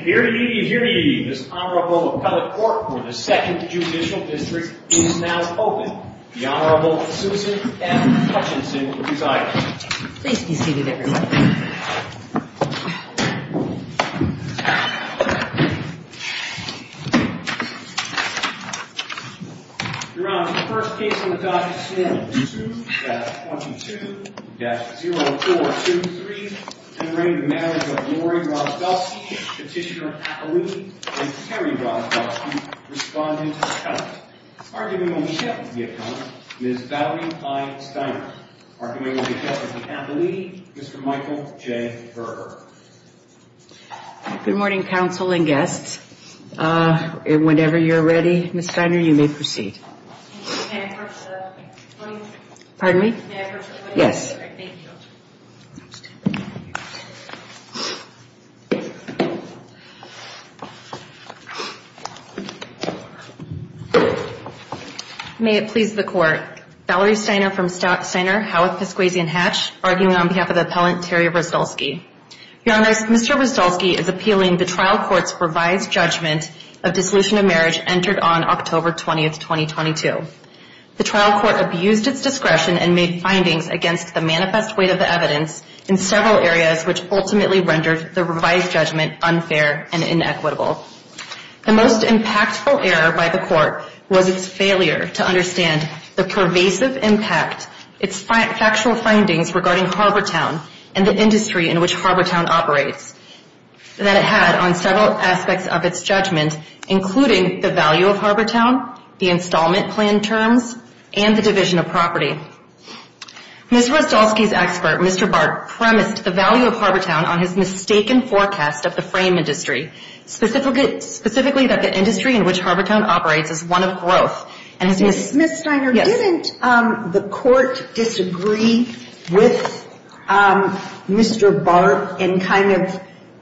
Here ye, here ye, this Honorable Appellate Court for the 2nd Judicial District is now open. The Honorable Susan M. Hutchinson will preside. Please be seated, everyone. Your Honor, the first case on the docket is Sue-22-0423 commemorating the marriage of Lori Rozdolsky, Petitioner Appellee, and Terry Rozdolsky, Respondent Appellate. Argument will be kept with the Appellate, Ms. Valerie I. Steiner. Argument will be kept with the Appellee, Mr. Michael J. Berger. Good morning, counsel and guests. Whenever you're ready, Ms. Steiner, you may proceed. Pardon me? Yes. May it please the Court. Valerie Steiner from Steiner, Howarth, Piscuasy & Hatch, arguing on behalf of the Appellant, Terry Rozdolsky. Your Honor, Mr. Rozdolsky is appealing the trial court's revised judgment of dissolution of marriage entered on October 20, 2022. The trial court abused its discretion and made findings against the manifest weight of the evidence in several areas, which ultimately rendered the revised judgment unfair and inequitable. The most impactful error by the court was its failure to understand the pervasive impact, its factual findings regarding Harbortown and the industry in which Harbortown operates, that it had on several aspects of its judgment, including the value of Harbortown, the installment plan terms, and the division of property. Ms. Rozdolsky's expert, Mr. Bart, premised the value of Harbortown on his mistaken forecast of the frame industry, specifically that the industry in which Harbortown operates is one of growth. Ms. Steiner, didn't the court disagree with Mr. Bart and kind of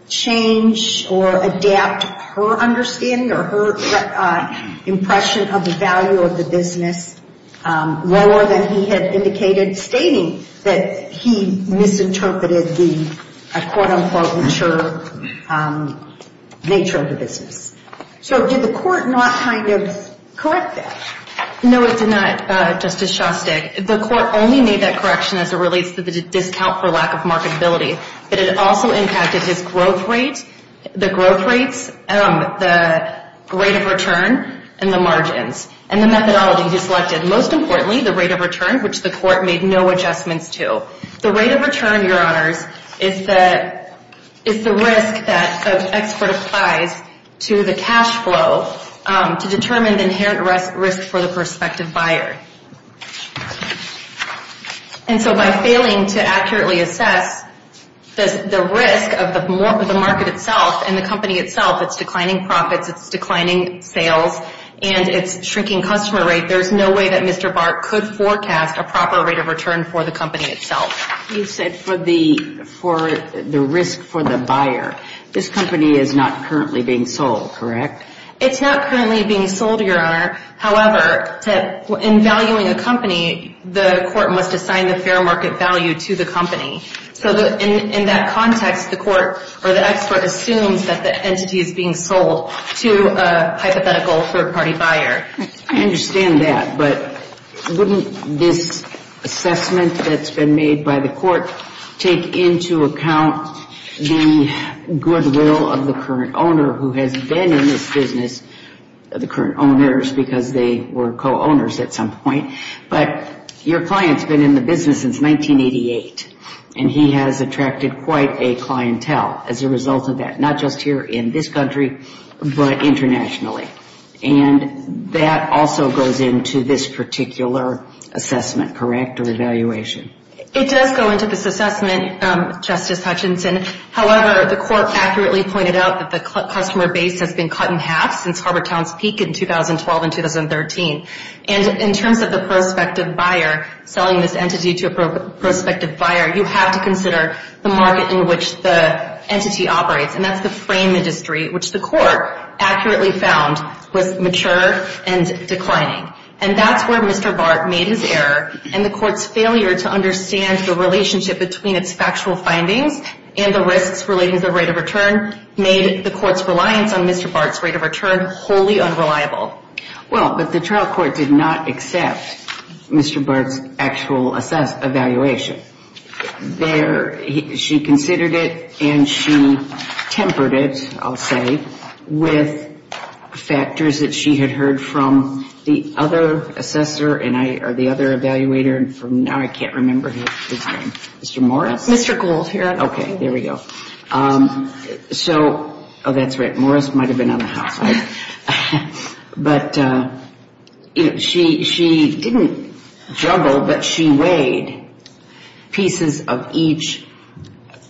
change or adapt her understanding or her impression of the value of the business lower than he had indicated, stating that he misinterpreted the, quote-unquote, mature nature of the business? So did the court not kind of correct that? No, it did not, Justice Shostak. The court only made that correction as it relates to the discount for lack of marketability, but it also impacted his growth rate, the growth rates, the rate of return, and the margins, and the methodology he selected. Most importantly, the rate of return, which the court made no adjustments to. The rate of return, Your Honors, is the risk that the expert applies to the cash flow to determine the inherent risk for the prospective buyer. And so by failing to accurately assess the risk of the market itself and the company itself, it's declining profits, it's declining sales, and it's shrinking customer rate. There's no way that Mr. Bart could forecast a proper rate of return for the company itself. You said for the risk for the buyer. This company is not currently being sold, correct? It's not currently being sold, Your Honor. However, in valuing a company, the court must assign the fair market value to the company. So in that context, the expert assumes that the entity is being sold to a hypothetical third-party buyer. I understand that. But wouldn't this assessment that's been made by the court take into account the goodwill of the current owner who has been in this business, the current owners, because they were co-owners at some point. But your client's been in the business since 1988, and he has attracted quite a clientele as a result of that, not just here in this country, but internationally. And that also goes into this particular assessment, correct, or evaluation? It does go into this assessment, Justice Hutchinson. However, the court accurately pointed out that the customer base has been cut in half since Harbortown's peak in 2012 and 2013. And in terms of the prospective buyer, selling this entity to a prospective buyer, you have to consider the market in which the entity operates, and that's the frame industry, which the court accurately found was mature and declining. And that's where Mr. Bart made his error, and the court's failure to understand the relationship between its factual findings and the risks relating to the rate of return made the court's reliance on Mr. Bart's rate of return wholly unreliable. Well, but the trial court did not accept Mr. Bart's actual evaluation. There she considered it, and she tempered it, I'll say, with factors that she had heard from the other assessor or the other evaluator from now I can't remember his name. Mr. Morris? Mr. Gould here. Okay, there we go. So, oh, that's right, Morris might have been on the house, right? But she didn't juggle, but she weighed pieces of each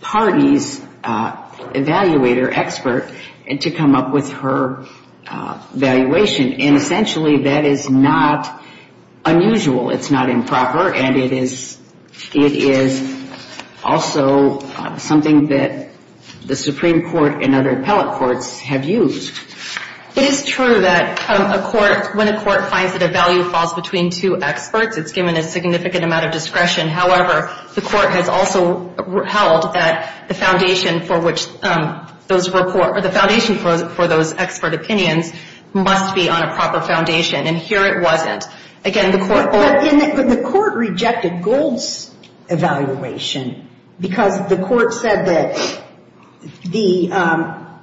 party's evaluator expert to come up with her evaluation, and essentially that is not unusual. It's not improper, and it is also something that the Supreme Court and other appellate courts have used. It is true that when a court finds that a value falls between two experts, it's given a significant amount of discretion. However, the court has also held that the foundation for those expert opinions must be on a proper foundation, and here it wasn't. Again, the court... But the court rejected Gould's evaluation because the court said that the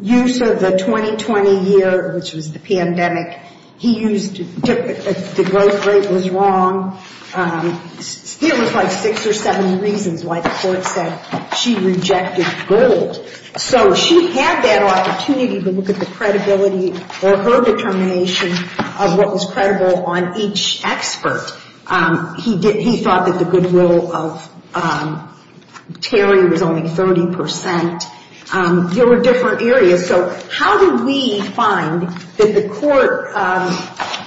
use of the 2020 year, which was the pandemic, he used the growth rate was wrong. There was like six or seven reasons why the court said she rejected Gould. So she had that opportunity to look at the credibility or her determination of what was credible on each expert. He thought that the goodwill of Terry was only 30%. There were different areas, so how did we find that the court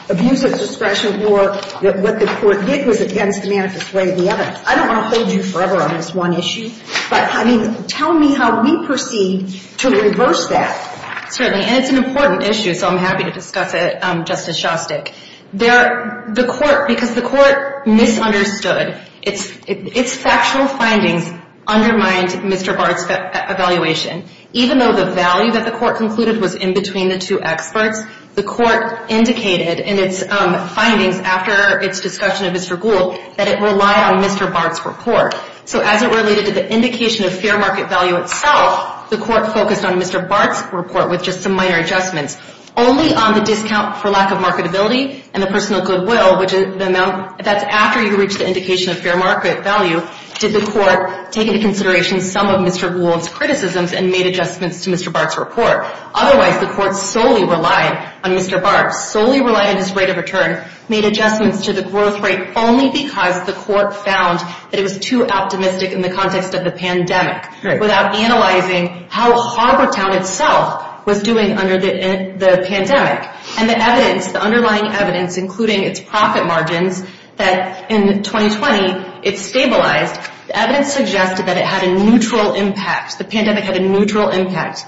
abused its discretion more, that what the court did was against the manifest way of the evidence? I don't want to hold you forever on this one issue, but, I mean, tell me how we proceed to reverse that. Certainly, and it's an important issue, so I'm happy to discuss it, Justice Shostak. The court, because the court misunderstood, its factual findings undermined Mr. Barth's evaluation. Even though the value that the court concluded was in between the two experts, the court indicated in its findings after its discussion of Mr. Gould that it relied on Mr. Barth's report. So as it related to the indication of fair market value itself, the court focused on Mr. Barth's report with just some minor adjustments. Only on the discount for lack of marketability and the personal goodwill, which is the amount that's after you reach the indication of fair market value, did the court take into consideration some of Mr. Gould's criticisms and made adjustments to Mr. Barth's report. Otherwise, the court solely relied on Mr. Barth, solely relied on his rate of return, made adjustments to the growth rate only because the court found that it was too optimistic in the context of the pandemic, without analyzing how Harbortown itself was doing under the pandemic. And the evidence, the underlying evidence, including its profit margins, that in 2020 it stabilized. The evidence suggested that it had a neutral impact, the pandemic had a neutral impact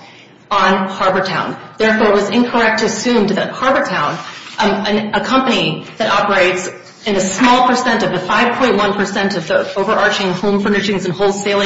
on Harbortown. Therefore, it was incorrect to assume that Harbortown, a company that operates in a small percent of the 5.1% of the overarching home furnishings and wholesale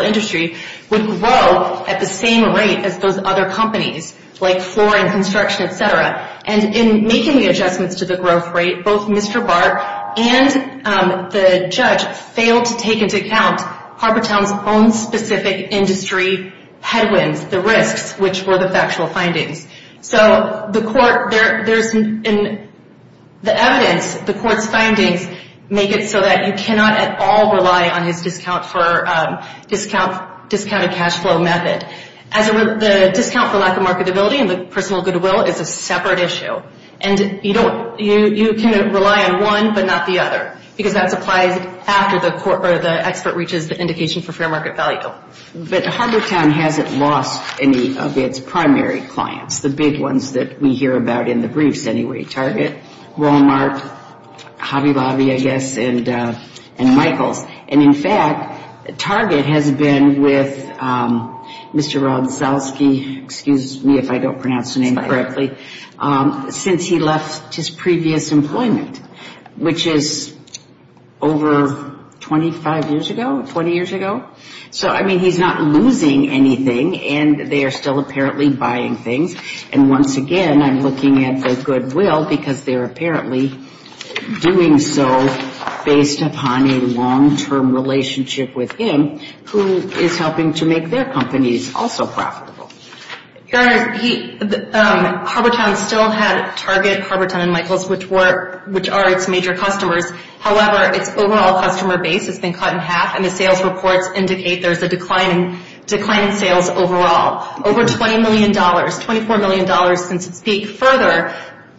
industry, would grow at the same rate as those other companies like floor and construction, etc. And in making the adjustments to the growth rate, both Mr. Barth and the judge failed to take into account Harbortown's own specific industry headwinds, the risks, which were the factual findings. So the evidence, the court's findings, make it so that you cannot at all rely on his discounted cash flow method. The discount for lack of marketability and the personal goodwill is a separate issue. And you can rely on one but not the other, because that's applied after the expert reaches the indication for fair market value. But Harbortown hasn't lost any of its primary clients, the big ones that we hear about in the briefs anyway. Target, Walmart, Hobby Lobby, I guess, and Michaels. And in fact, Target has been with Mr. Rodzalski, excuse me if I don't pronounce the name correctly, since he left his previous employment, which is over 25 years ago, 20 years ago. So, I mean, he's not losing anything and they are still apparently buying things. And once again, I'm looking at the goodwill because they're apparently doing so based upon a long-term relationship with him, who is helping to make their companies also profitable. Your Honor, Harbortown still had Target, Harbortown, and Michaels, which are its major customers. However, its overall customer base has been cut in half and the sales reports indicate there's a decline in sales overall. Over $20 million, $24 million since its peak. Further,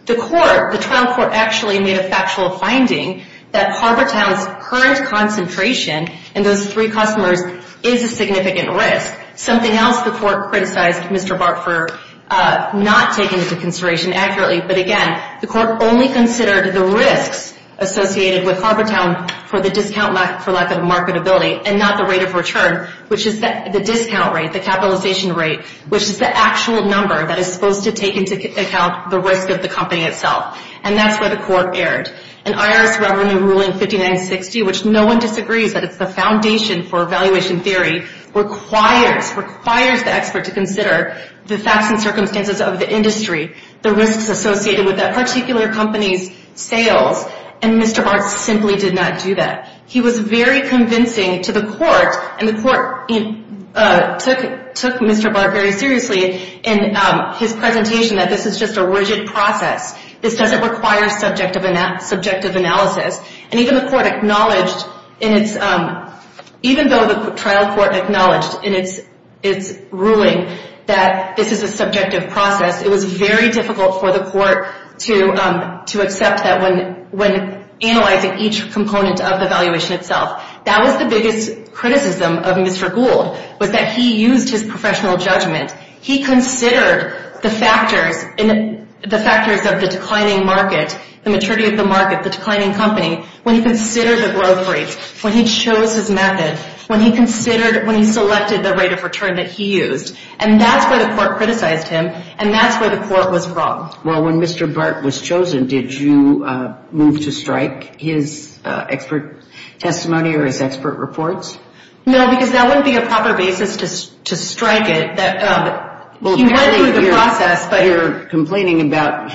the trial court actually made a factual finding that Harbortown's current concentration in those three customers is a significant risk. Something else the court criticized Mr. Bart for not taking into consideration accurately, but again, the court only considered the risks associated with Harbortown for the discount for lack of marketability and not the rate of return, which is the discount rate, the capitalization rate, which is the actual number that is supposed to take into account the risk of the company itself. And that's where the court erred. An IRS revenue ruling 5960, which no one disagrees that it's the foundation for evaluation theory, requires the expert to consider the facts and circumstances of the industry, the risks associated with that particular company's sales, and Mr. Bart simply did not do that. He was very convincing to the court, and the court took Mr. Bart very seriously in his presentation that this is just a rigid process. This doesn't require subjective analysis. And even though the trial court acknowledged in its ruling that this is a subjective process, it was very difficult for the court to accept that when analyzing each component of the valuation itself. That was the biggest criticism of Mr. Gould, was that he used his professional judgment. He considered the factors of the declining market, the maturity of the market, the declining company, when he considered the growth rates, when he chose his method, when he selected the rate of return that he used. And that's where the court criticized him, and that's where the court was wrong. Well, when Mr. Bart was chosen, did you move to strike his expert testimony or his expert reports? No, because that wouldn't be a proper basis to strike it. He went through the process. You're complaining about,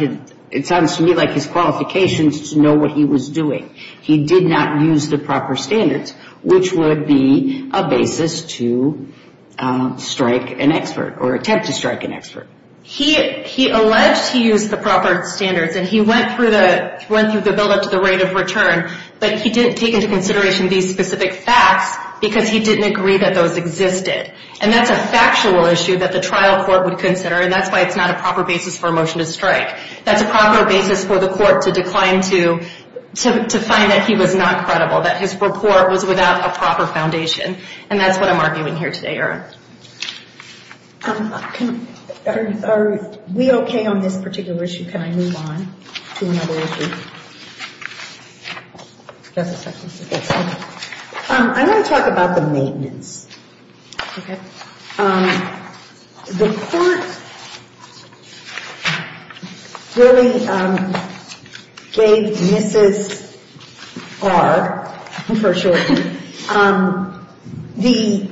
it sounds to me like his qualifications to know what he was doing. He did not use the proper standards, which would be a basis to strike an expert or attempt to strike an expert. He alleged he used the proper standards, and he went through the buildup to the rate of return, but he didn't take into consideration these specific facts because he didn't agree that those existed. And that's a factual issue that the trial court would consider, and that's why it's not a proper basis for a motion to strike. That's a proper basis for the court to decline to find that he was not credible, that his report was without a proper foundation. And that's what I'm arguing here today, Erin. Are we okay on this particular issue? Can I move on to another issue? I'm going to talk about the maintenance. Okay. The court really gave Mrs. R, for short, the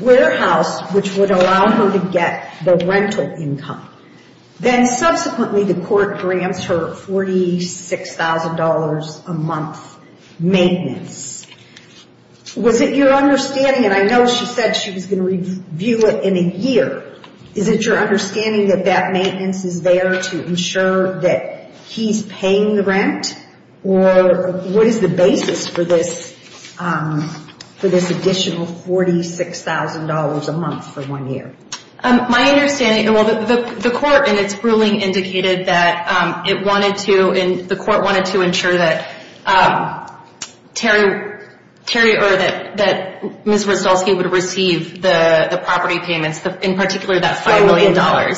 warehouse which would allow her to get the rental income. Then subsequently the court grants her $46,000 a month maintenance. Was it your understanding, and I know she said she was going to review it in a year, is it your understanding that that maintenance is there to ensure that he's paying the rent? Or what is the basis for this additional $46,000 a month for one year? My understanding, and the court in its ruling indicated that it wanted to, and the court wanted to ensure that Terry, or that Ms. Ristolsky would receive the property payments, in particular that $5 million,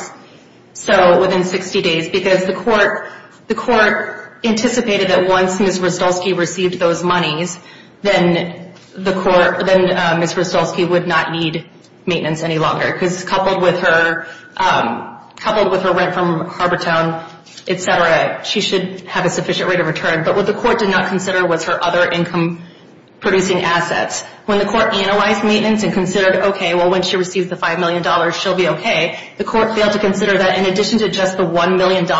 so within 60 days. Because the court anticipated that once Ms. Ristolsky received those monies, then Ms. Ristolsky would not need maintenance any longer. Because coupled with her rent from Harbortown, et cetera, she should have a sufficient rate of return. But what the court did not consider was her other income-producing assets. When the court analyzed maintenance and considered, okay, well, when she receives the $5 million, she'll be okay, the court failed to consider that in addition to just the $1 million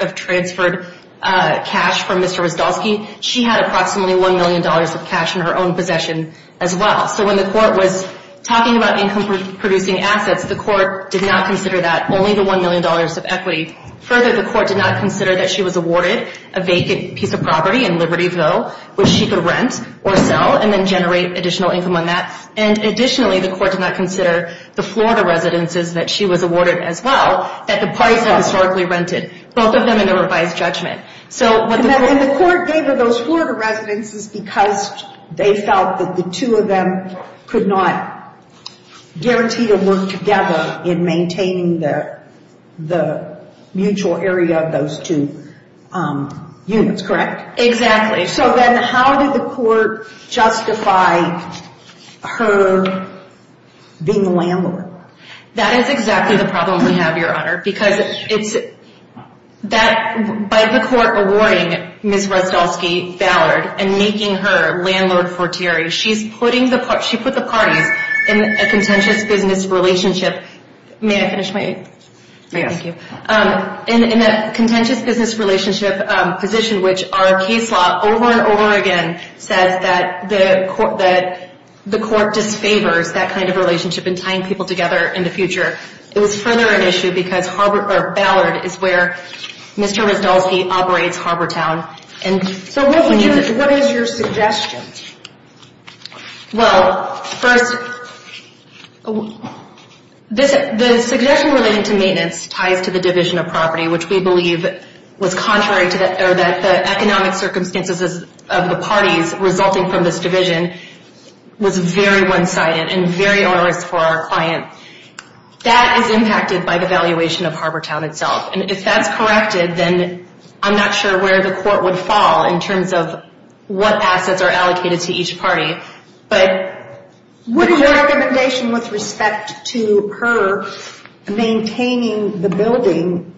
of transferred cash from Ms. Ristolsky, she had approximately $1 million of cash in her own possession as well. So when the court was talking about income-producing assets, the court did not consider that, only the $1 million of equity. Further, the court did not consider that she was awarded a vacant piece of property in Libertyville, which she could rent or sell and then generate additional income on that. And additionally, the court did not consider the Florida residences that she was awarded as well, that the parties had historically rented, both of them in a revised judgment. And the court gave her those Florida residences because they felt that the two of them could not guarantee a work together in maintaining the mutual area of those two units, correct? Exactly. So then how did the court justify her being the landlord? That is exactly the problem we have, Your Honor, because by the court awarding Ms. Ristolsky Ballard and making her landlord for Terry, she put the parties in a contentious business relationship. May I finish my? Yes. Thank you. In a contentious business relationship position, which our case law over and over again says that the court disfavors that kind of relationship in tying people together in the future. It was further an issue because Ballard is where Mr. Ristolsky operates Harbortown. So what is your suggestion? Well, first, the suggestion relating to maintenance ties to the division of property, which we believe was contrary to the economic circumstances of the parties resulting from this division, was very one-sided and very onerous for our client. That is impacted by the valuation of Harbortown itself, and if that's corrected, then I'm not sure where the court would fall in terms of what assets are allocated to each party. What is your recommendation with respect to her maintaining the building,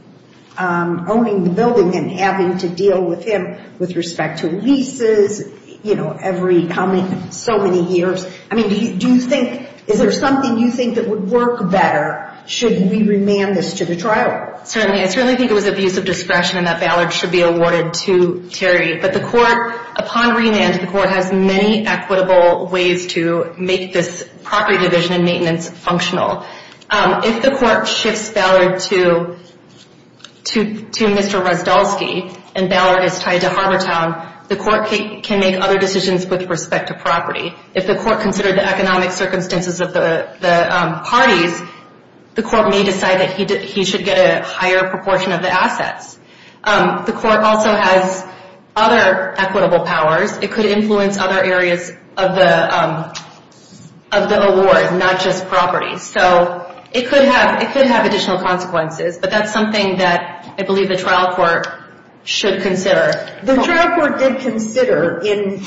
owning the building and having to deal with him with respect to leases, you know, every coming so many years? I mean, do you think, is there something you think that would work better should we remand this to the trial? Certainly. I certainly think it was abuse of discretion and that Ballard should be awarded to Terry. But the court, upon remand, the court has many equitable ways to make this property division and maintenance functional. If the court shifts Ballard to Mr. Ristolsky and Ballard is tied to Harbortown, the court can make other decisions with respect to property. If the court considered the economic circumstances of the parties, the court may decide that he should get a higher proportion of the assets. The court also has other equitable powers. It could influence other areas of the award, not just property. So it could have additional consequences, but that's something that I believe the trial court should consider. The trial court did consider in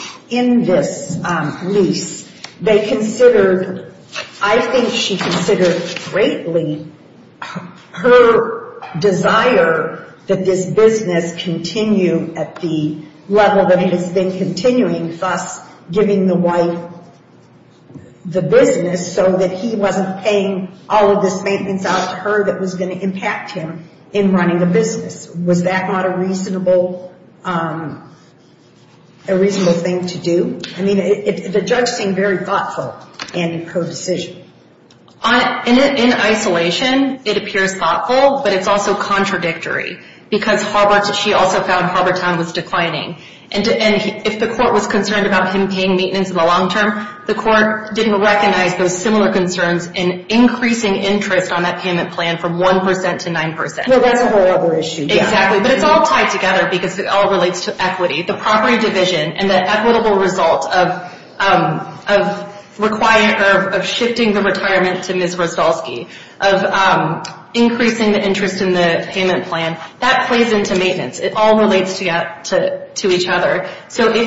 this lease. They considered, I think she considered greatly her desire that this business continue at the level that it has been continuing, thus giving the wife the business so that he wasn't paying all of this maintenance out to her that was going to impact him in running the business. Was that not a reasonable thing to do? I mean, the judge seemed very thoughtful in her decision. In isolation, it appears thoughtful, but it's also contradictory because she also found Harbortown was declining. And if the court was concerned about him paying maintenance in the long term, the court didn't recognize those similar concerns in increasing interest on that payment plan from 1 percent to 9 percent. Well, that's a whole other issue. Exactly. But it's all tied together because it all relates to equity. The property division and the equitable result of shifting the retirement to Ms. Roszkowski, of increasing the interest in the payment plan, that plays into maintenance. It all relates to each other. So I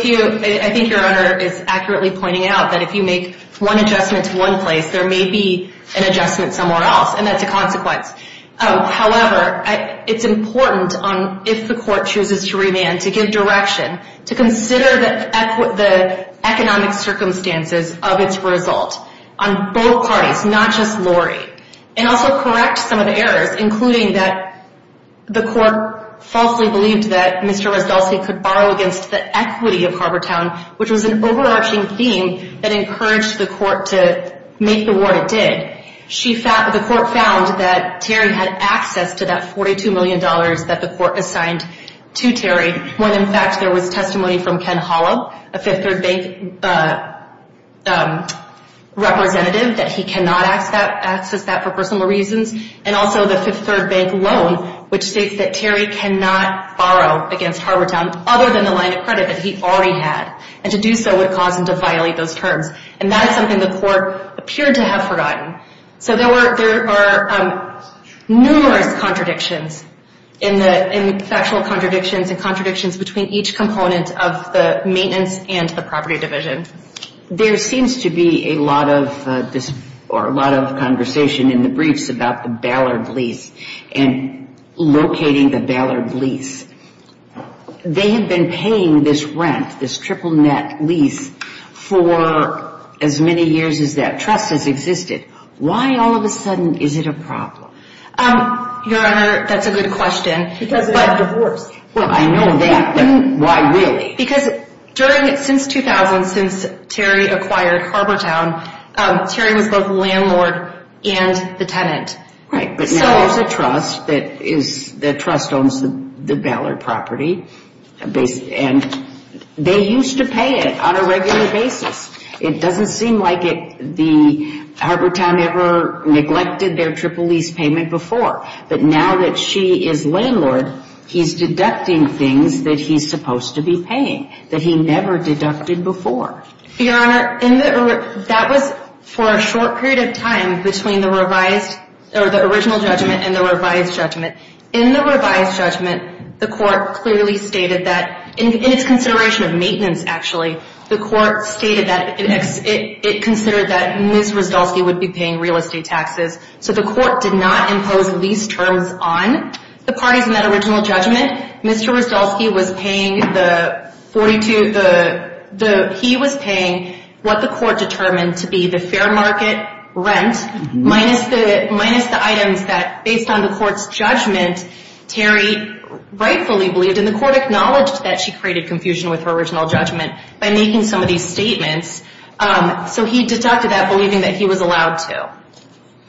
think Your Honor is accurately pointing out that if you make one adjustment to one place, there may be an adjustment somewhere else, and that's a consequence. However, it's important, if the court chooses to remand, to give direction, to consider the economic circumstances of its result on both parties, not just Lori, and also correct some of the errors, including that the court falsely believed that Mr. Roszkowski could borrow against the equity of Harbortown, which was an overarching theme that encouraged the court to make the award it did. The court found that Terry had access to that $42 million that the court assigned to Terry, when in fact there was testimony from Ken Hollow, a Fifth Third Bank representative, that he cannot access that for personal reasons, and also the Fifth Third Bank loan, which states that Terry cannot borrow against Harbortown other than the line of credit that he already had, and to do so would cause him to violate those terms. And that is something the court appeared to have forgotten. So there are numerous contradictions in the factual contradictions and contradictions between each component of the maintenance and the property division. There seems to be a lot of conversation in the briefs about the Ballard lease and locating the Ballard lease. They have been paying this rent, this triple net lease, for as many years as that trust has existed. Why all of a sudden is it a problem? Your Honor, that's a good question. Because it's a divorce. Well, I know that, but why really? Because during, since 2000, since Terry acquired Harbortown, Terry was both the landlord and the tenant. Right, but now there's a trust that is, the trust owns the Ballard property, and they used to pay it on a regular basis. It doesn't seem like it, the, Harbortown ever neglected their triple lease payment before. But now that she is landlord, he's deducting things that he's supposed to be paying, that he never deducted before. Your Honor, that was for a short period of time between the revised, or the original judgment and the revised judgment. In the revised judgment, the court clearly stated that, in its consideration of maintenance, actually, the court stated that it considered that Ms. Rzdolski would be paying real estate taxes. So the court did not impose lease terms on the parties in that original judgment. Mr. Rzdolski was paying the 42, the, he was paying what the court determined to be the fair market rent, minus the items that, based on the court's judgment, Terry rightfully believed, and the court acknowledged that she created confusion with her original judgment by making some of these statements. So he deducted that, believing that he was allowed to.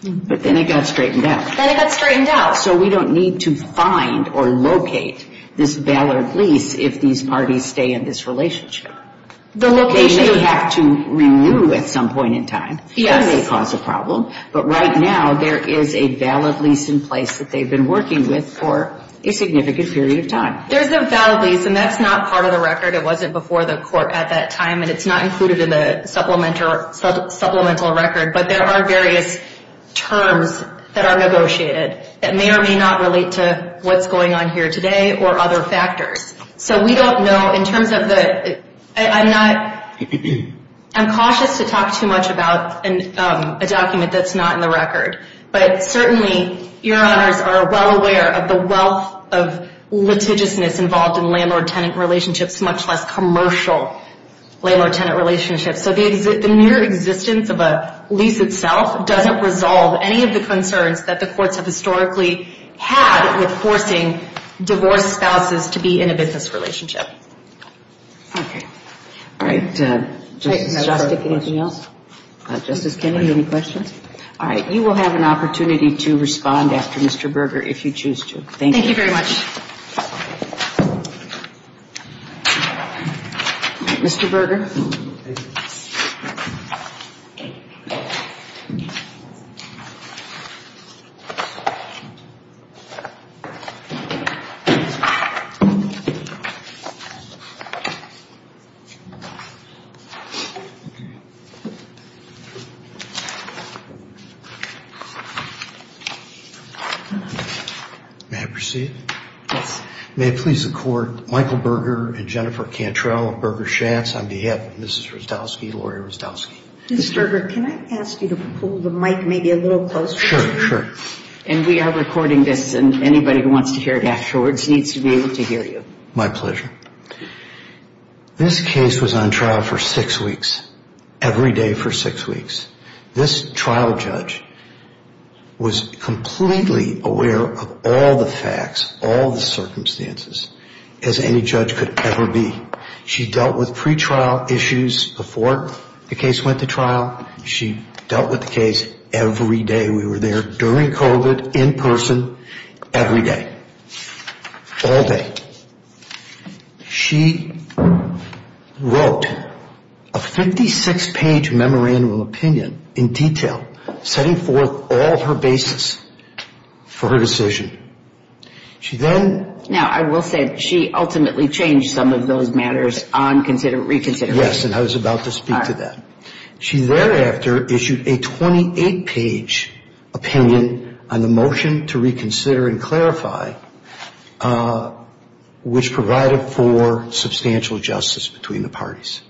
But then it got straightened out. Then it got straightened out. So we don't need to find or locate this valid lease if these parties stay in this relationship. They may have to renew at some point in time. That may cause a problem. But right now, there is a valid lease in place that they've been working with for a significant period of time. There's a valid lease, and that's not part of the record. It wasn't before the court at that time, and it's not included in the supplemental record. But there are various terms that are negotiated that may or may not relate to what's going on here today or other factors. So we don't know in terms of the, I'm not, I'm cautious to talk too much about a document that's not in the record. But certainly, your honors are well aware of the wealth of litigiousness involved in landlord-tenant relationships, much less commercial landlord-tenant relationships. So the mere existence of a lease itself doesn't resolve any of the concerns that the courts have historically had with forcing divorced spouses to be in a business relationship. Okay. All right. Justice Kennedy, any questions? All right. You will have an opportunity to respond after Mr. Berger if you choose to. Thank you. Thank you very much. Mr. Berger. May I proceed? Yes. May it please the Court, Michael Berger and Jennifer Cantrell of Berger Schatz on behalf of Mrs. Rustowski, Laurie Rustowski. Mr. Berger, can I ask you to pull the mic maybe a little closer? Sure, sure. And we are recording this, and anybody who wants to hear it afterwards needs to be able to hear you. My pleasure. This case was on trial for six weeks, every day for six weeks. This trial judge was completely aware of all the facts, all the circumstances, as any judge could ever be. She dealt with pretrial issues before the case went to trial. She dealt with the case every day. We were there during COVID, in person, every day, all day. She wrote a 56-page memorandum of opinion in detail, setting forth all her basis for her decision. Now, I will say that she ultimately changed some of those matters on reconsideration. Yes, and I was about to speak to that. She thereafter issued a 28-page opinion on the motion to reconsider and clarify, which provided for substantial justice between the parties.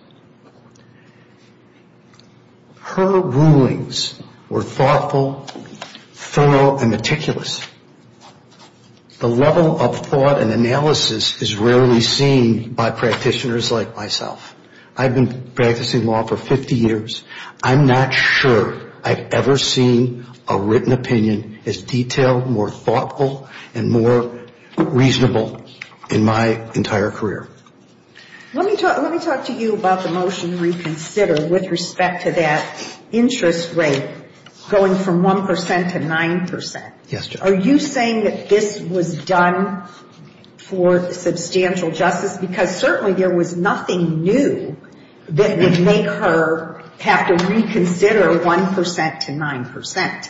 Her rulings were thoughtful, thorough, and meticulous. The level of thought and analysis is rarely seen by practitioners like myself. I've been practicing law for 50 years. I'm not sure I've ever seen a written opinion as detailed, more thoughtful, and more reasonable in my entire career. Let me talk to you about the motion to reconsider with respect to that interest rate going from 1% to 9%. Yes, Judge. Are you saying that this was done for substantial justice? Because certainly there was nothing new that would make her have to reconsider 1% to 9%.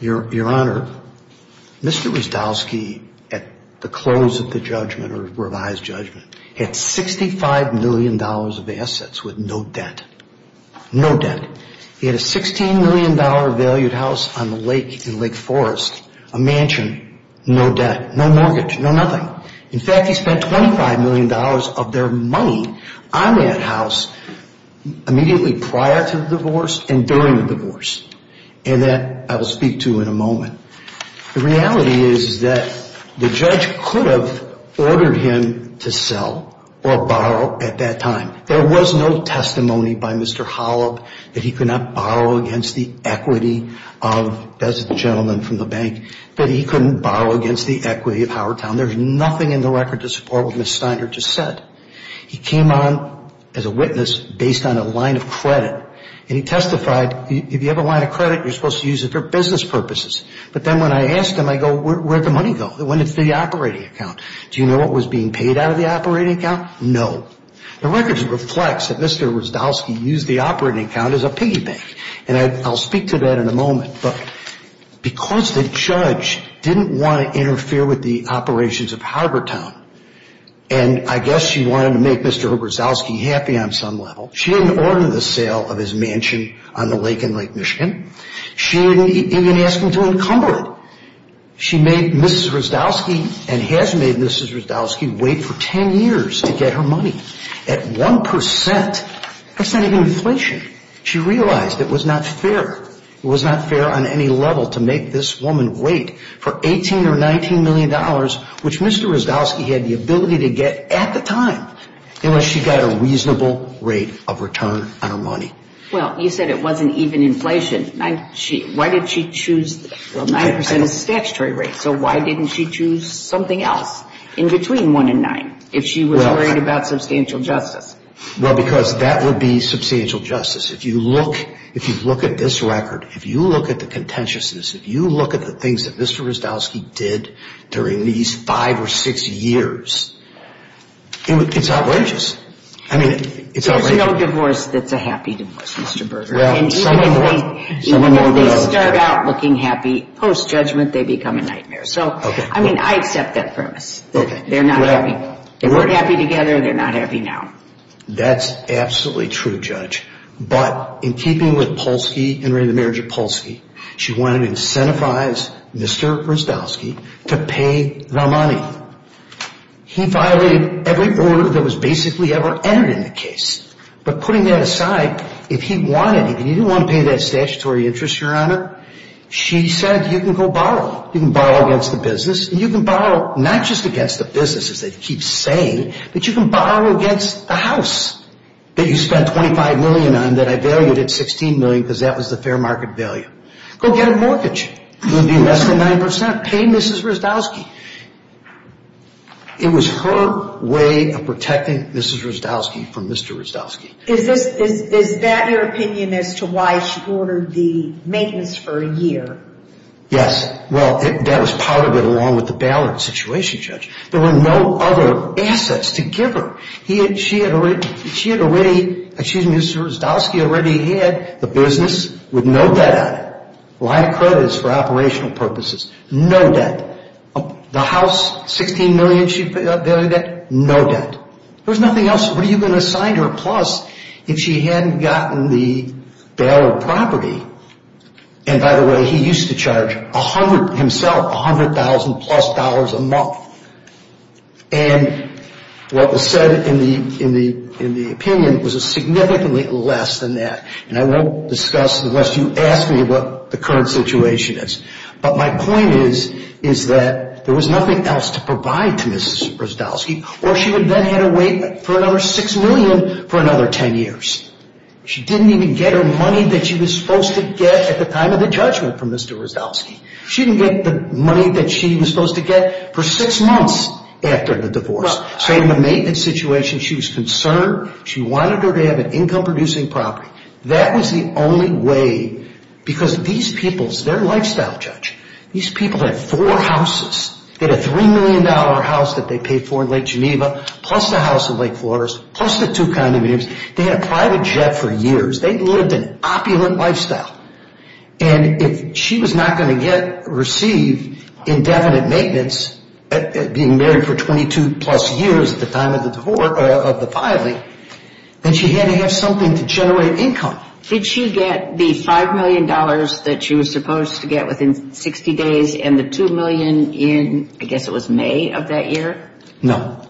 Your Honor, Mr. Rustowski, at the close of the judgment or revised judgment, had $65 million of assets with no debt. No debt. He had a $16 million valued house on the lake in Lake Forest, a mansion, no debt, no mortgage, no nothing. In fact, he spent $25 million of their money on that house immediately prior to the divorce and during the divorce. And that I will speak to in a moment. The reality is that the judge could have ordered him to sell or borrow at that time. There was no testimony by Mr. Holub that he could not borrow against the equity of, as the gentleman from the bank, that he couldn't borrow against the equity of Howertown. There's nothing in the record to support what Ms. Steiner just said. He came on as a witness based on a line of credit. And he testified, if you have a line of credit, you're supposed to use it for business purposes. But then when I asked him, I go, where'd the money go? It went into the operating account. Do you know what was being paid out of the operating account? No. The record reflects that Mr. Hrozdowski used the operating account as a piggy bank. And I'll speak to that in a moment. But because the judge didn't want to interfere with the operations of Howertown, and I guess she wanted to make Mr. Hrozdowski happy on some level, she didn't order the sale of his mansion on the lake in Lake Michigan. She didn't even ask him to encumber it. She made Ms. Hrozdowski, and has made Ms. Hrozdowski, wait for 10 years to get her money at 1% percent of inflation. She realized it was not fair. It was not fair on any level to make this woman wait for $18 million or $19 million, which Mr. Hrozdowski had the ability to get at the time, unless she got a reasonable rate of return on her money. Well, you said it wasn't even inflation. Why did she choose 9% as a statutory rate? So why didn't she choose something else in between 1 and 9 if she was worried about substantial justice? Well, because that would be substantial justice. If you look at this record, if you look at the contentiousness, if you look at the things that Mr. Hrozdowski did during these five or six years, it's outrageous. I mean, it's outrageous. There's no divorce that's a happy divorce, Mr. Berger. And even if they start out looking happy, post-judgment they become a nightmare. So, I mean, I accept that premise, that they're not happy. They weren't happy together. They're not happy now. That's absolutely true, Judge. But in keeping with Polsky and the marriage of Polsky, she wanted to incentivize Mr. Hrozdowski to pay the money. He violated every order that was basically ever entered in the case. But putting that aside, if he wanted, if he didn't want to pay that statutory interest, Your Honor, she said, you can go borrow. You can borrow against the business. And you can borrow not just against the business, as they keep saying, but you can borrow against the house that you spent $25 million on that I valued at $16 million because that was the fair market value. Go get a mortgage. It would be less than 9%. Pay Mrs. Hrozdowski. It was her way of protecting Mrs. Hrozdowski from Mr. Hrozdowski. Is that your opinion as to why she ordered the maintenance for a year? Yes. Well, that was part of it along with the bailout situation, Judge. There were no other assets to give her. She had already, excuse me, Mr. Hrozdowski already had the business with no debt on it, line of credits for operational purposes, no debt. The house, $16 million she valued at, no debt. There was nothing else. What are you going to assign to her? Plus, if she hadn't gotten the bailed property, and by the way, he used to charge himself $100,000-plus a month. And what was said in the opinion was significantly less than that. And I won't discuss unless you ask me what the current situation is. But my point is, is that there was nothing else to provide to Mrs. Hrozdowski, or she would then have to wait for another $6 million for another 10 years. She didn't even get her money that she was supposed to get at the time of the judgment from Mr. Hrozdowski. She didn't get the money that she was supposed to get for six months after the divorce. So in the maintenance situation, she was concerned. She wanted her to have an income-producing property. That was the only way, because these people, their lifestyle judge, these people had four houses. They had a $3 million house that they paid for in Lake Geneva, plus a house in Lake Forest, plus the two condominiums. They had a private jet for years. They lived an opulent lifestyle. And if she was not going to get, receive indefinite maintenance, being married for 22-plus years at the time of the divorce, of the filing, then she had to have something to generate income. Did she get the $5 million that she was supposed to get within 60 days and the $2 million in, I guess it was May of that year? No.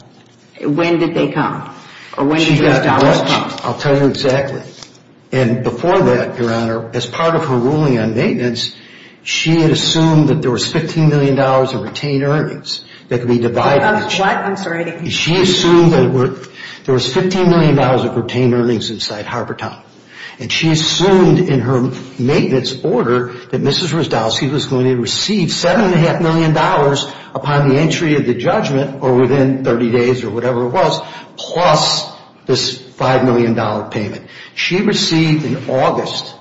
When did they come? I'll tell you exactly. And before that, Your Honor, as part of her ruling on maintenance, she had assumed that there was $15 million of retained earnings that could be divided. What? I'm sorry. She assumed that there was $15 million of retained earnings inside Harbor Town, and she assumed in her maintenance order that Mrs. Hrozdowski was going to receive $7.5 million upon the entry of the judgment or within 30 days or whatever it was, plus this $5 million payment. She received in August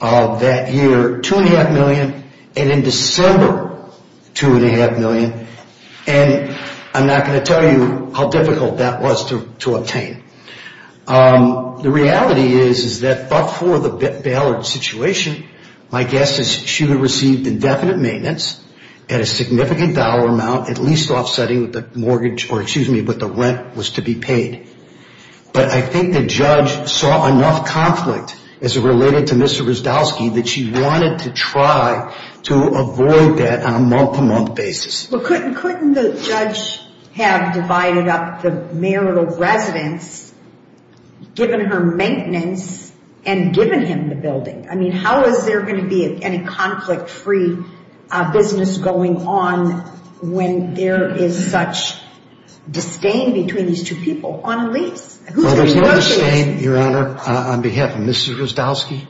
of that year, $2.5 million, and in December, $2.5 million. And I'm not going to tell you how difficult that was to obtain. The reality is, is that before the Ballard situation, my guess is she would have received indefinite maintenance at a significant dollar amount, at least offsetting what the mortgage or, excuse me, what the rent was to be paid. But I think the judge saw enough conflict as it related to Mrs. Hrozdowski that she wanted to try to avoid that on a month-to-month basis. Couldn't the judge have divided up the marital residence, given her maintenance, and given him the building? I mean, how is there going to be any conflict-free business going on when there is such disdain between these two people on a lease? Well, there's no disdain, Your Honor, on behalf of Mrs. Hrozdowski.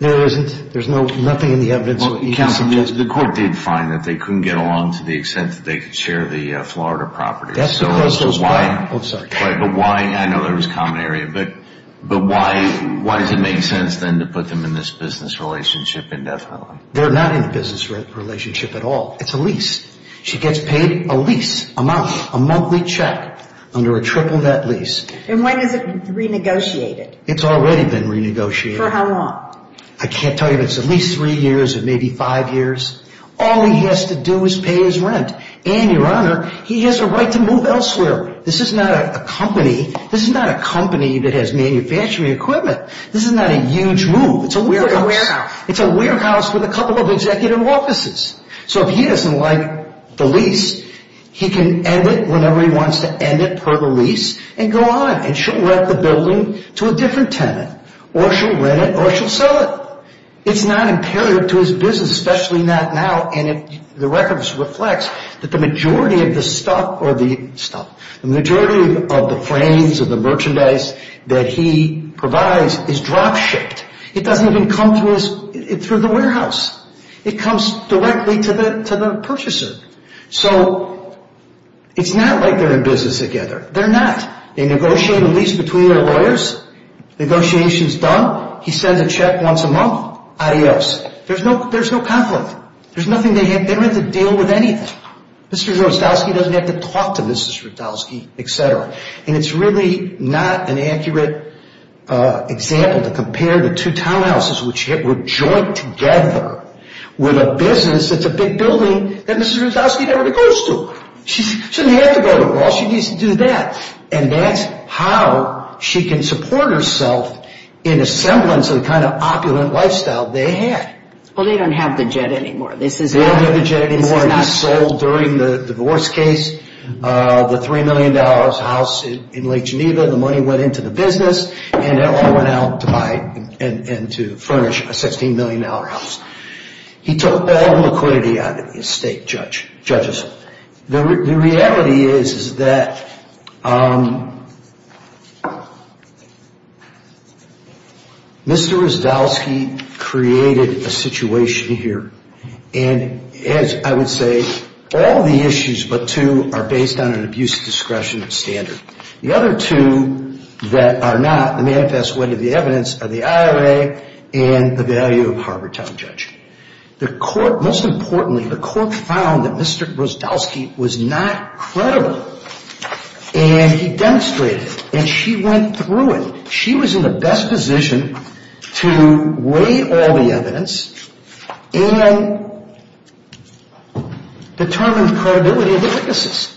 There isn't. There's nothing in the evidence that you can suggest. Well, counsel, the court did find that they couldn't get along to the extent that they could share the Florida property. But why? I know there was common area. But why does it make sense then to put them in this business relationship indefinitely? They're not in a business relationship at all. It's a lease. She gets paid a lease amount, a monthly check, under a triple that lease. And when is it renegotiated? It's already been renegotiated. For how long? I can't tell you, but it's at least three years or maybe five years. All he has to do is pay his rent. And, Your Honor, he has a right to move elsewhere. This is not a company that has manufacturing equipment. This is not a huge move. It's a warehouse. It's a warehouse with a couple of executive offices. So if he doesn't like the lease, he can end it whenever he wants to end it per the lease and go on. And she'll rent the building to a different tenant, or she'll rent it or she'll sell it. It's not imperative to his business, especially not now. And the record reflects that the majority of the stuff or the stuff, the majority of the frames or the merchandise that he provides is drop-shipped. It doesn't even come through the warehouse. It comes directly to the purchaser. So it's not like they're in business together. They're not. They negotiate a lease between their lawyers. Negotiation is done. He sends a check once a month. Adios. There's no conflict. There's nothing they have. They don't have to deal with anything. Mr. Zasowski doesn't have to talk to Mrs. Zasowski, et cetera. And it's really not an accurate example to compare the two townhouses, which were joined together with a business that's a big building that Mrs. Zasowski never goes to. She doesn't have to go to all. She needs to do that. And that's how she can support herself in a semblance of the kind of opulent lifestyle they had. Well, they don't have the jet anymore. They don't have the jet anymore. It was sold during the divorce case. The $3 million house in Lake Geneva, the money went into the business, and it all went out to buy and to furnish a $16 million house. He took all the liquidity out of the estate, judges. The reality is that Mr. Zasowski created a situation here. And as I would say, all the issues but two are based on an abuse of discretion standard. The other two that are not manifest way to the evidence are the IRA and the value of Harbor Town Judge. The court, most importantly, the court found that Mr. Zasowski was not credible, and he demonstrated. And she went through it. She was in the best position to weigh all the evidence and determine credibility of the witnesses.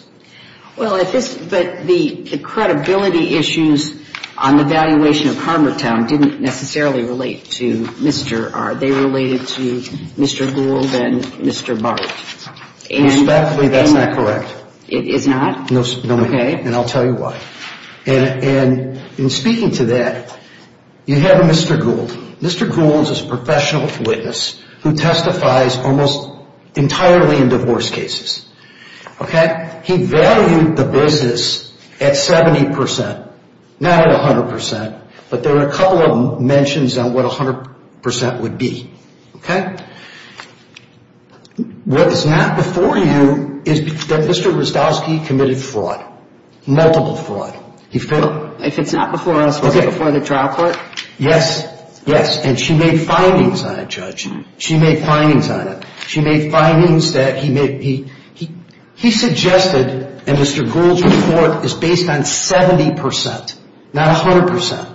Well, but the credibility issues on the valuation of Harbor Town didn't necessarily relate to Mr. Are they related to Mr. Gould and Mr. Barth? Respectfully, that's not correct. It is not? No, ma'am. Okay. And I'll tell you why. And in speaking to that, you have Mr. Gould. Mr. Gould is a professional witness who testifies almost entirely in divorce cases. Okay? He valued the business at 70 percent, not at 100 percent, but there are a couple of mentions on what 100 percent would be. Okay? What is not before you is that Mr. Zasowski committed fraud, multiple fraud. He failed? If it's not before us, was it before the trial court? Yes. Yes. And she made findings on it, Judge. She made findings on it. She made findings that he made. Mr. Gould's report is based on 70 percent, not 100 percent.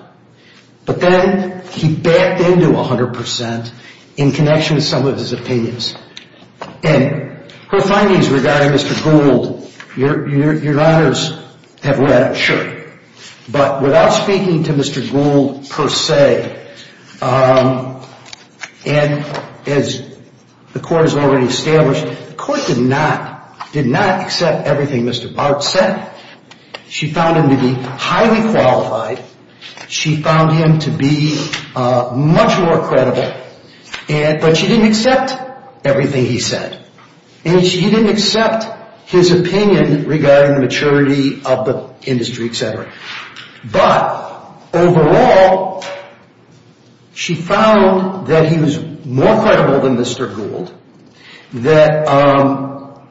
But then he backed into 100 percent in connection with some of his opinions. And her findings regarding Mr. Gould, your honors have read, sure. But without speaking to Mr. Gould per se, and as the court has already established, the court did not accept everything Mr. Bart said. She found him to be highly qualified. She found him to be much more credible. But she didn't accept everything he said. And she didn't accept his opinion regarding the maturity of the industry, et cetera. But overall, she found that he was more credible than Mr. Gould, that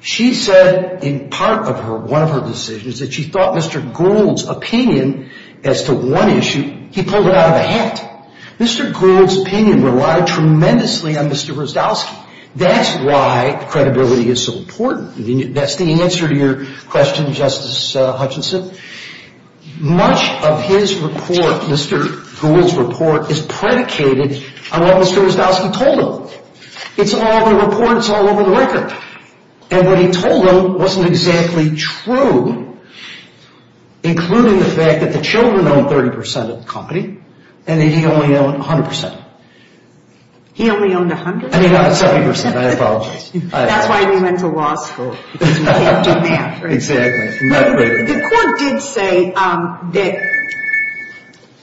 she said in part of her, one of her decisions, that she thought Mr. Gould's opinion as to one issue, he pulled it out of a hat. Mr. Gould's opinion relied tremendously on Mr. Zasowski. That's why credibility is so important. That's the answer to your question, Justice Hutchinson. Much of his report, Mr. Gould's report, is predicated on what Mr. Zasowski told him. It's all in the report. It's all over the record. And what he told them wasn't exactly true, including the fact that the children owned 30 percent of the company and that he only owned 100 percent. He only owned 100? I mean, not 70 percent. I apologize. That's why we went to law school, because we can't do math. Exactly. The court did say that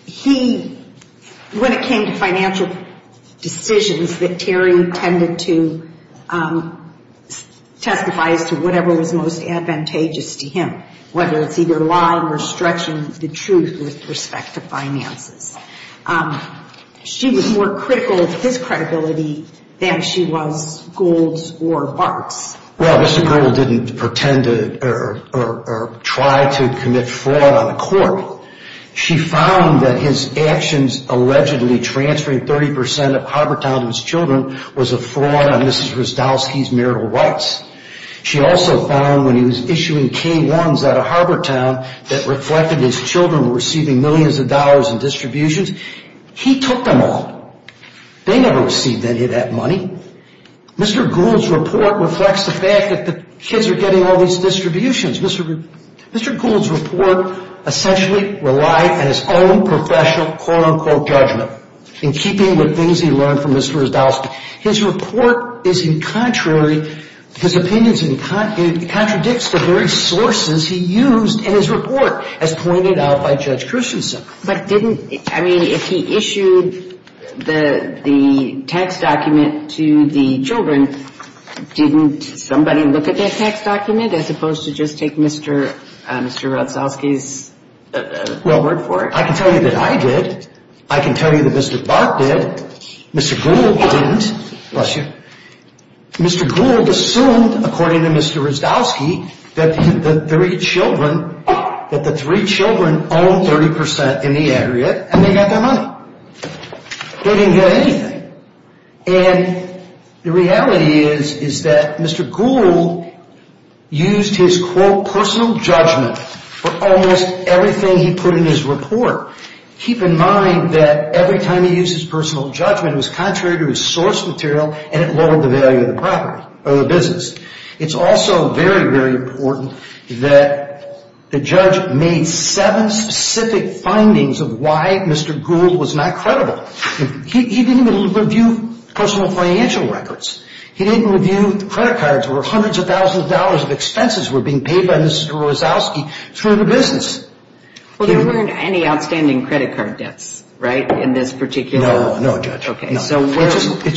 he, when it came to financial decisions, that Terry tended to testify as to whatever was most advantageous to him, whether it's either lying or stretching the truth with respect to finances. She was more critical of his credibility than she was Gould's or Bart's. Well, Mr. Gould didn't pretend or try to commit fraud on the court. She found that his actions allegedly transferring 30 percent of Harbortown to his children was a fraud on Mrs. Zasowski's marital rights. She also found when he was issuing K-1s out of Harbortown that reflected his children were receiving millions of dollars in distributions, he took them all. They never received any of that money. Mr. Gould's report reflects the fact that the kids are getting all these distributions. Mr. Gould's report essentially relied on his own professional, quote-unquote, judgment in keeping with things he learned from Mrs. Zasowski. His report is in contrary, his opinions contradict the very sources he used in his report, as pointed out by Judge Christensen. But didn't, I mean, if he issued the tax document to the children, didn't somebody look at that tax document as opposed to just take Mr. Zasowski's word for it? Well, I can tell you that I did. I can tell you that Mr. Bart did. Mr. Gould didn't. Bless you. Mr. Gould assumed, according to Mr. Zasowski, that the three children owned 30% in the area and they got that money. They didn't get anything. And the reality is that Mr. Gould used his, quote, personal judgment for almost everything he put in his report. Keep in mind that every time he used his personal judgment, it was contrary to his source material and it lowered the value of the business. It's also very, very important that the judge made seven specific findings of why Mr. Gould was not credible. He didn't even review personal financial records. He didn't review credit cards where hundreds of thousands of dollars of expenses were being paid by Mrs. Zasowski through the business. Well, there weren't any outstanding credit card debts, right, in this particular? No, no, Judge. Okay. It's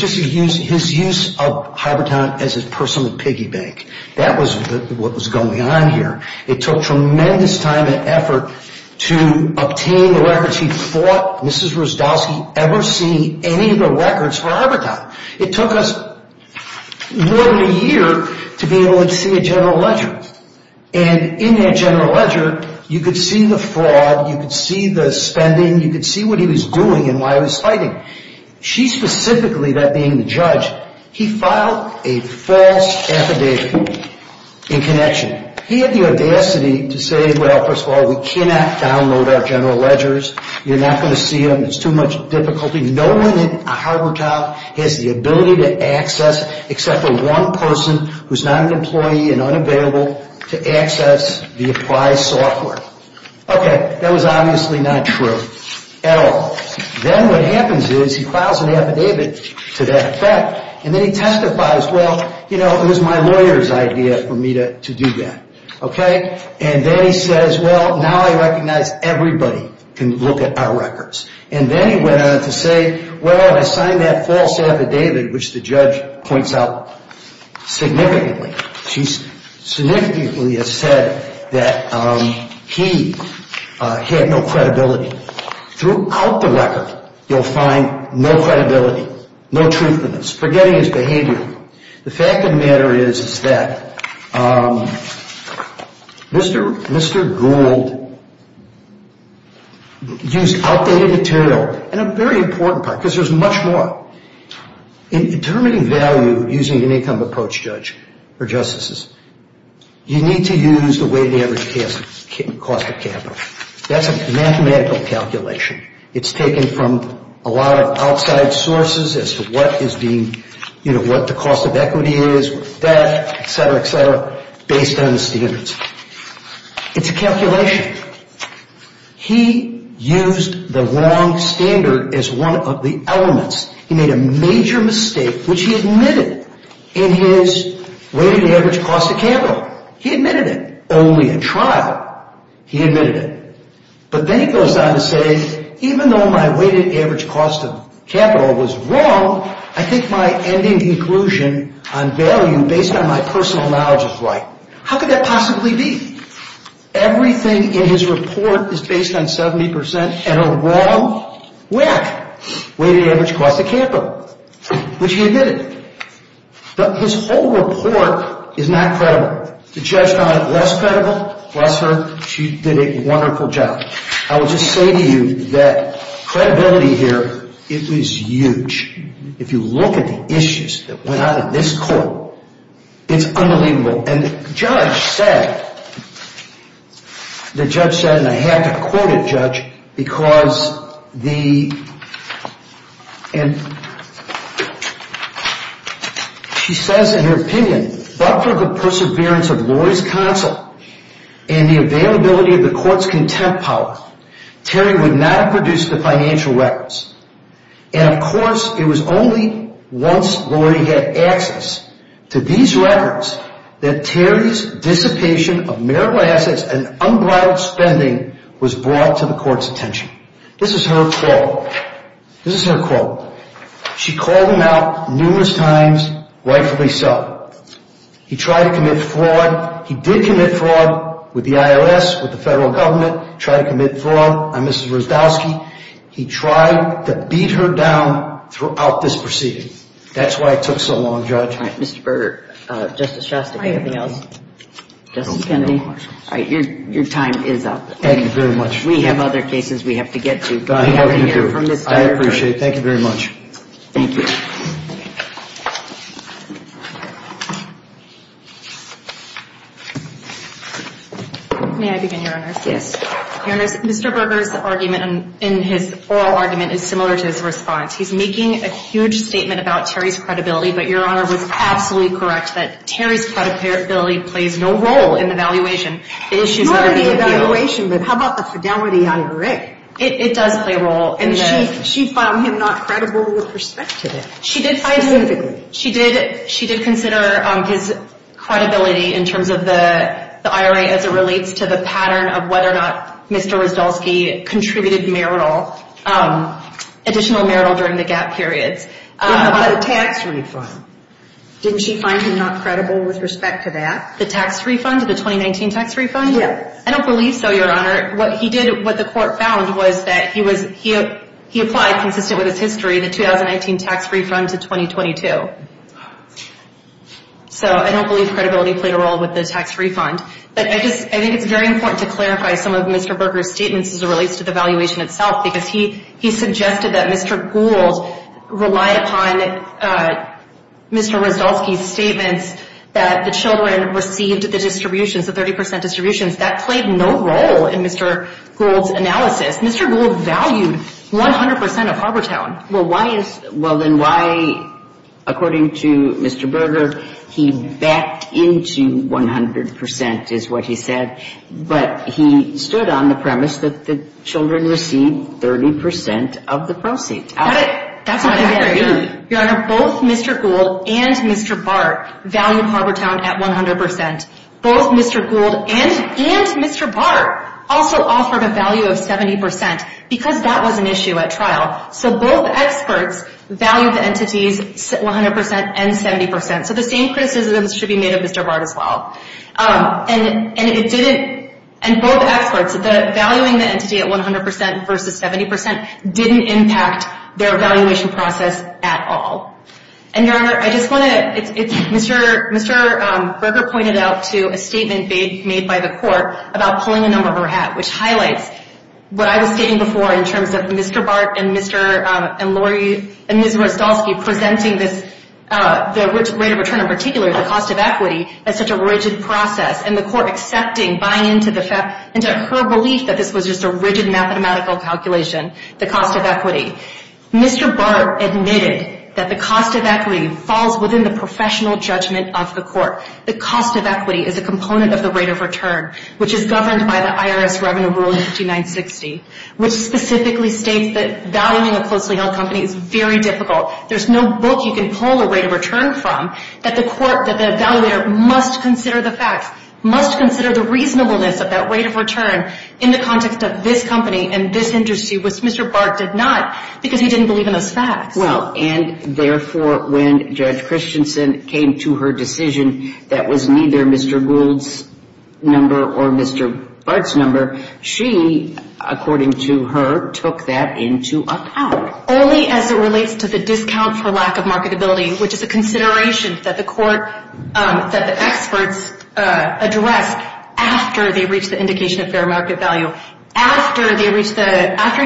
just his use of Harbortown as his personal piggy bank. That was what was going on here. It took tremendous time and effort to obtain the records he thought Mrs. Zasowski ever see any of the records for Harbortown. It took us more than a year to be able to see a general ledger. And in that general ledger, you could see the fraud, you could see the spending, you could see what he was doing and why he was fighting. She specifically, that being the judge, he filed a false affidavit in connection. He had the audacity to say, well, first of all, we cannot download our general ledgers. You're not going to see them. It's too much difficulty. No one in Harbortown has the ability to access, except for one person who's not an employee and unavailable to access the applied software. Okay. That was obviously not true at all. Then what happens is he files an affidavit to that effect, and then he testifies, well, you know, it was my lawyer's idea for me to do that. Okay. And then he says, well, now I recognize everybody can look at our records. And then he went on to say, well, I signed that false affidavit, which the judge points out significantly. She significantly has said that he had no credibility. Throughout the record, you'll find no credibility, no truthfulness, forgetting his behavior. The fact of the matter is that Mr. Gould used outdated material, and a very important part, because there's much more. In determining value using an income approach, Judge, or Justices, you need to use the weighted average cost of capital. That's a mathematical calculation. It's taken from a lot of outside sources as to what is being, you know, what the cost of equity is, what's that, et cetera, et cetera, based on the standards. It's a calculation. He used the wrong standard as one of the elements. He made a major mistake, which he admitted in his weighted average cost of capital. He admitted it only in trial. He admitted it. But then he goes on to say, even though my weighted average cost of capital was wrong, I think my ending conclusion on value based on my personal knowledge is right. How could that possibly be? Everything in his report is based on 70% and a wrong whack. Weighted average cost of capital, which he admitted. His whole report is not credible. The judge found it less credible. Bless her. She did a wonderful job. I will just say to you that credibility here, it was huge. If you look at the issues that went on in this court, it's unbelievable. And the judge said, and I have to quote it, judge, because she says, in her opinion, but for the perseverance of Lori's counsel and the availability of the court's contempt power, Terry would not have produced the financial records. And, of course, it was only once Lori had access to these records that Terry's dissipation of marital assets and unbridled spending was brought to the court's attention. This is her quote. This is her quote. She called him out numerous times, rightfully so. He tried to commit fraud. He did commit fraud with the I.O.S., with the federal government, tried to commit fraud. I'm Mr. Zdowski. He tried to beat her down throughout this proceeding. That's why it took so long, judge. All right, Mr. Berger. Justice Shostak, anything else? Justice Kennedy? All right, your time is up. Thank you very much. We have other cases we have to get to. I appreciate it. Thank you very much. Thank you. May I begin, Your Honor? Yes. Your Honor, Mr. Berger's argument in his oral argument is similar to his response. He's making a huge statement about Terry's credibility, but Your Honor was absolutely correct that Terry's credibility plays no role in the evaluation. It's not in the evaluation, but how about the fidelity on Rick? It does play a role. And she found him not credible with respect to this. She did. Significantly. She did consider his credibility in terms of the IRA as it relates to the pattern of whether or not Mr. Ryszkowski contributed marital, additional marital during the gap periods. What about the tax refund? Didn't she find him not credible with respect to that? The tax refund, the 2019 tax refund? Yes. I don't believe so, Your Honor. What he did, what the court found was that he applied, consistent with his history, the 2019 tax refund to 2022. So I don't believe credibility played a role with the tax refund. But I think it's very important to clarify some of Mr. Berger's statements as it relates to the evaluation itself because he suggested that Mr. Gould rely upon Mr. Ryszkowski's statements that the children received the distributions, the 30% distributions. That played no role in Mr. Gould's analysis. Mr. Gould valued 100% of Harbortown. Well, why is, well, then why, according to Mr. Berger, he backed into 100% is what he said, but he stood on the premise that the children received 30% of the proceeds. Your Honor, both Mr. Gould and Mr. Bart valued Harbortown at 100%. Both Mr. Gould and Mr. Bart also offered a value of 70% because that was an issue at trial. So both experts valued the entities 100% and 70%. So the same criticisms should be made of Mr. Bart as well. And both experts, valuing the entity at 100% versus 70% didn't impact their evaluation process at all. And, Your Honor, I just want to, Mr. Berger pointed out to a statement made by the court about pulling a number of her hat, which highlights what I was stating before in terms of Mr. Bart and Ms. Rostowski presenting this, the rate of return in particular, the cost of equity, as such a rigid process, and the court accepting, buying into her belief that this was just a rigid mathematical calculation, the cost of equity. Mr. Bart admitted that the cost of equity falls within the professional judgment of the court. The cost of equity is a component of the rate of return, which is governed by the IRS Revenue Rule 5960, which specifically states that valuing a closely held company is very difficult. There's no book you can pull a rate of return from that the court, that the evaluator must consider the facts, must consider the reasonableness of that rate of return in the context of this company and this industry, which Mr. Bart did not because he didn't believe in those facts. Well, and therefore, when Judge Christensen came to her decision that was neither Mr. Gould's number or Mr. Bart's number, she, according to her, took that into account. Only as it relates to the discount for lack of marketability, which is a consideration that the court, that the experts addressed after they reached the indication of fair market value. After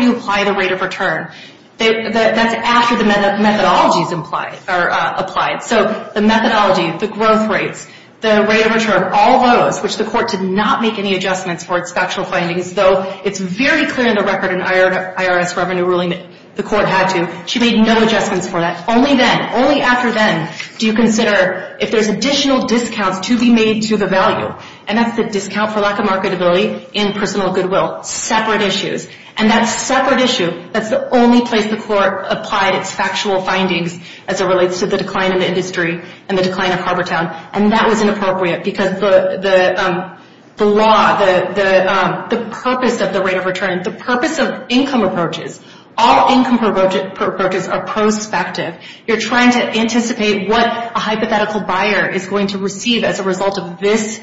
you apply the rate of return, that's after the methodologies are applied. So the methodology, the growth rates, the rate of return, all those, which the court did not make any adjustments for its factual findings, though it's very clear in the record in IRS Revenue Ruling that the court had to. She made no adjustments for that. Only then, only after then, do you consider if there's additional discounts to be made to the value, and that's the discount for lack of marketability in personal goodwill. Separate issues. And that separate issue, that's the only place the court applied its factual findings as it relates to the decline of the industry and the decline of Harbortown. And that was inappropriate because the law, the purpose of the rate of return, the purpose of income approaches, all income approaches are prospective. You're trying to anticipate what a hypothetical buyer is going to receive as a result of this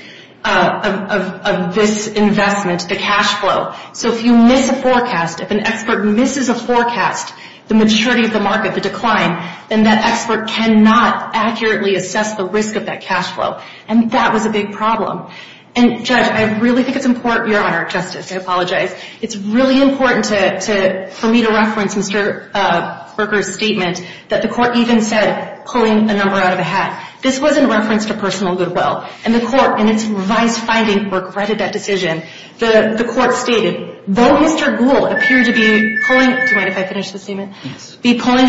investment, the cash flow. So if you miss a forecast, if an expert misses a forecast, the maturity of the market, the decline, then that expert cannot accurately assess the risk of that cash flow. And that was a big problem. And, Judge, I really think it's important. Your Honor, Justice, I apologize. It's really important for me to reference Mr. Berger's statement that the court even said pulling a number out of a hat. This wasn't a reference to personal goodwill. And the court, in its revised finding, regretted that decision. The court stated, though Mr. Gould appeared to be pulling a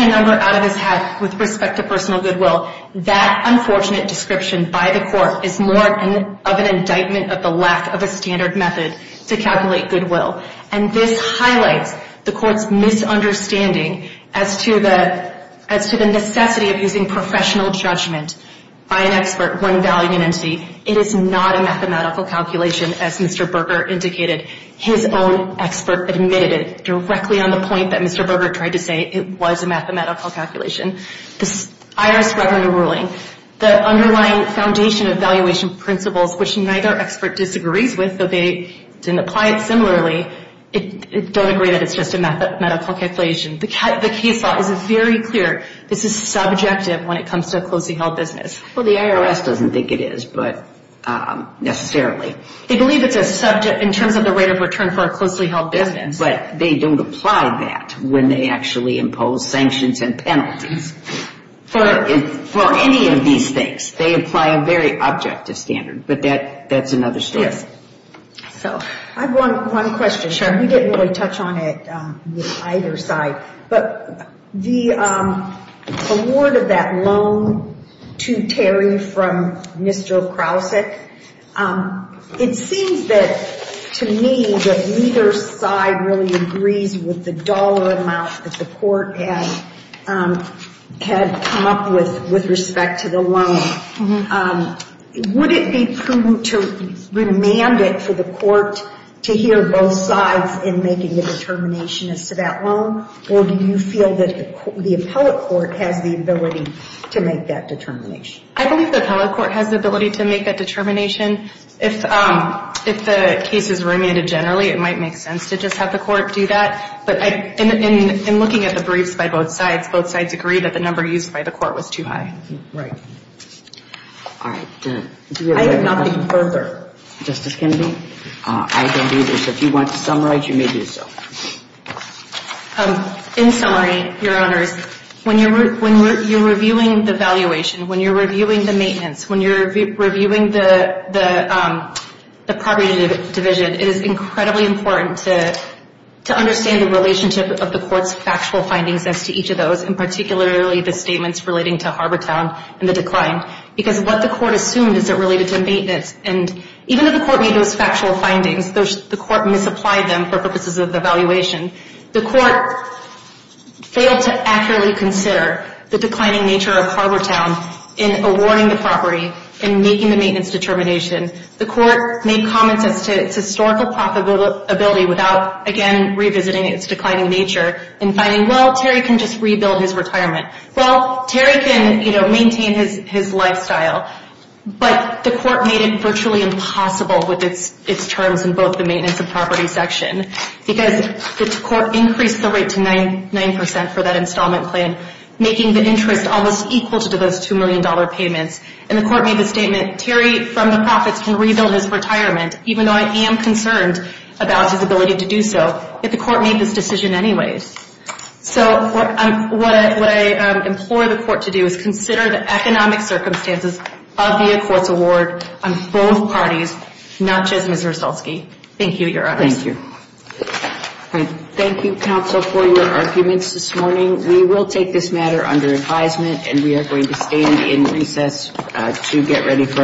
number out of his hat with respect to personal goodwill, that unfortunate description by the court is more of an indictment of the lack of a standard method to calculate goodwill. And this highlights the court's misunderstanding as to the necessity of using professional judgment by an expert when valuing an entity. It is not a mathematical calculation, as Mr. Berger indicated. His own expert admitted it directly on the point that Mr. Berger tried to say it was a mathematical calculation. The IRS Revenue Ruling, the underlying foundation of valuation principles, which neither expert disagrees with, though they didn't apply it similarly, don't agree that it's just a mathematical calculation. The case law is very clear. This is subjective when it comes to a closely held business. Well, the IRS doesn't think it is, but necessarily. They believe it's a subject in terms of the rate of return for a closely held business. But they don't apply that when they actually impose sanctions and penalties. For any of these things, they apply a very objective standard. But that's another story. Yes. I have one question. Sure. We didn't really touch on it with either side. But the award of that loan to Terry from Mr. Krausek, it seems that, to me, that neither side really agrees with the dollar amount that the court had come up with with respect to the loan. Would it be prudent to remand it for the court to hear both sides in making the determination as to that loan? Or do you feel that the appellate court has the ability to make that determination? I believe the appellate court has the ability to make that determination. If the case is remanded generally, it might make sense to just have the court do that. But in looking at the briefs by both sides, both sides agree that the number used by the court was too high. Right. All right. I have nothing further. Justice Kennedy? I don't either. So if you want to summarize, you may do so. In summary, Your Honors, when you're reviewing the valuation, when you're reviewing the maintenance, when you're reviewing the property division, it is incredibly important to understand the relationship of the court's factual findings as to each of those, and particularly the statements relating to Harbortown and the decline, because what the court assumed is it related to maintenance. And even if the court made those factual findings, the court misapplied them for purposes of the valuation. The court failed to accurately consider the declining nature of Harbortown in awarding the property and making the maintenance determination. The court made comments as to its historical profitability without, again, revisiting its declining nature and finding, well, Terry can just rebuild his retirement. Well, Terry can, you know, maintain his lifestyle. But the court made it virtually impossible with its terms in both the maintenance and property section because the court increased the rate to 9% for that installment plan, making the interest almost equal to those $2 million payments. And the court made the statement, Terry, from the profits, can rebuild his retirement, even though I am concerned about his ability to do so. Yet the court made this decision anyways. So what I implore the court to do is consider the economic circumstances of the court's award on both parties, not just Ms. Rosalski. Thank you, Your Honors. Thank you. Thank you, counsel, for your arguments this morning. We will take this matter under advisement, and we are going to stand in recess to get ready for it.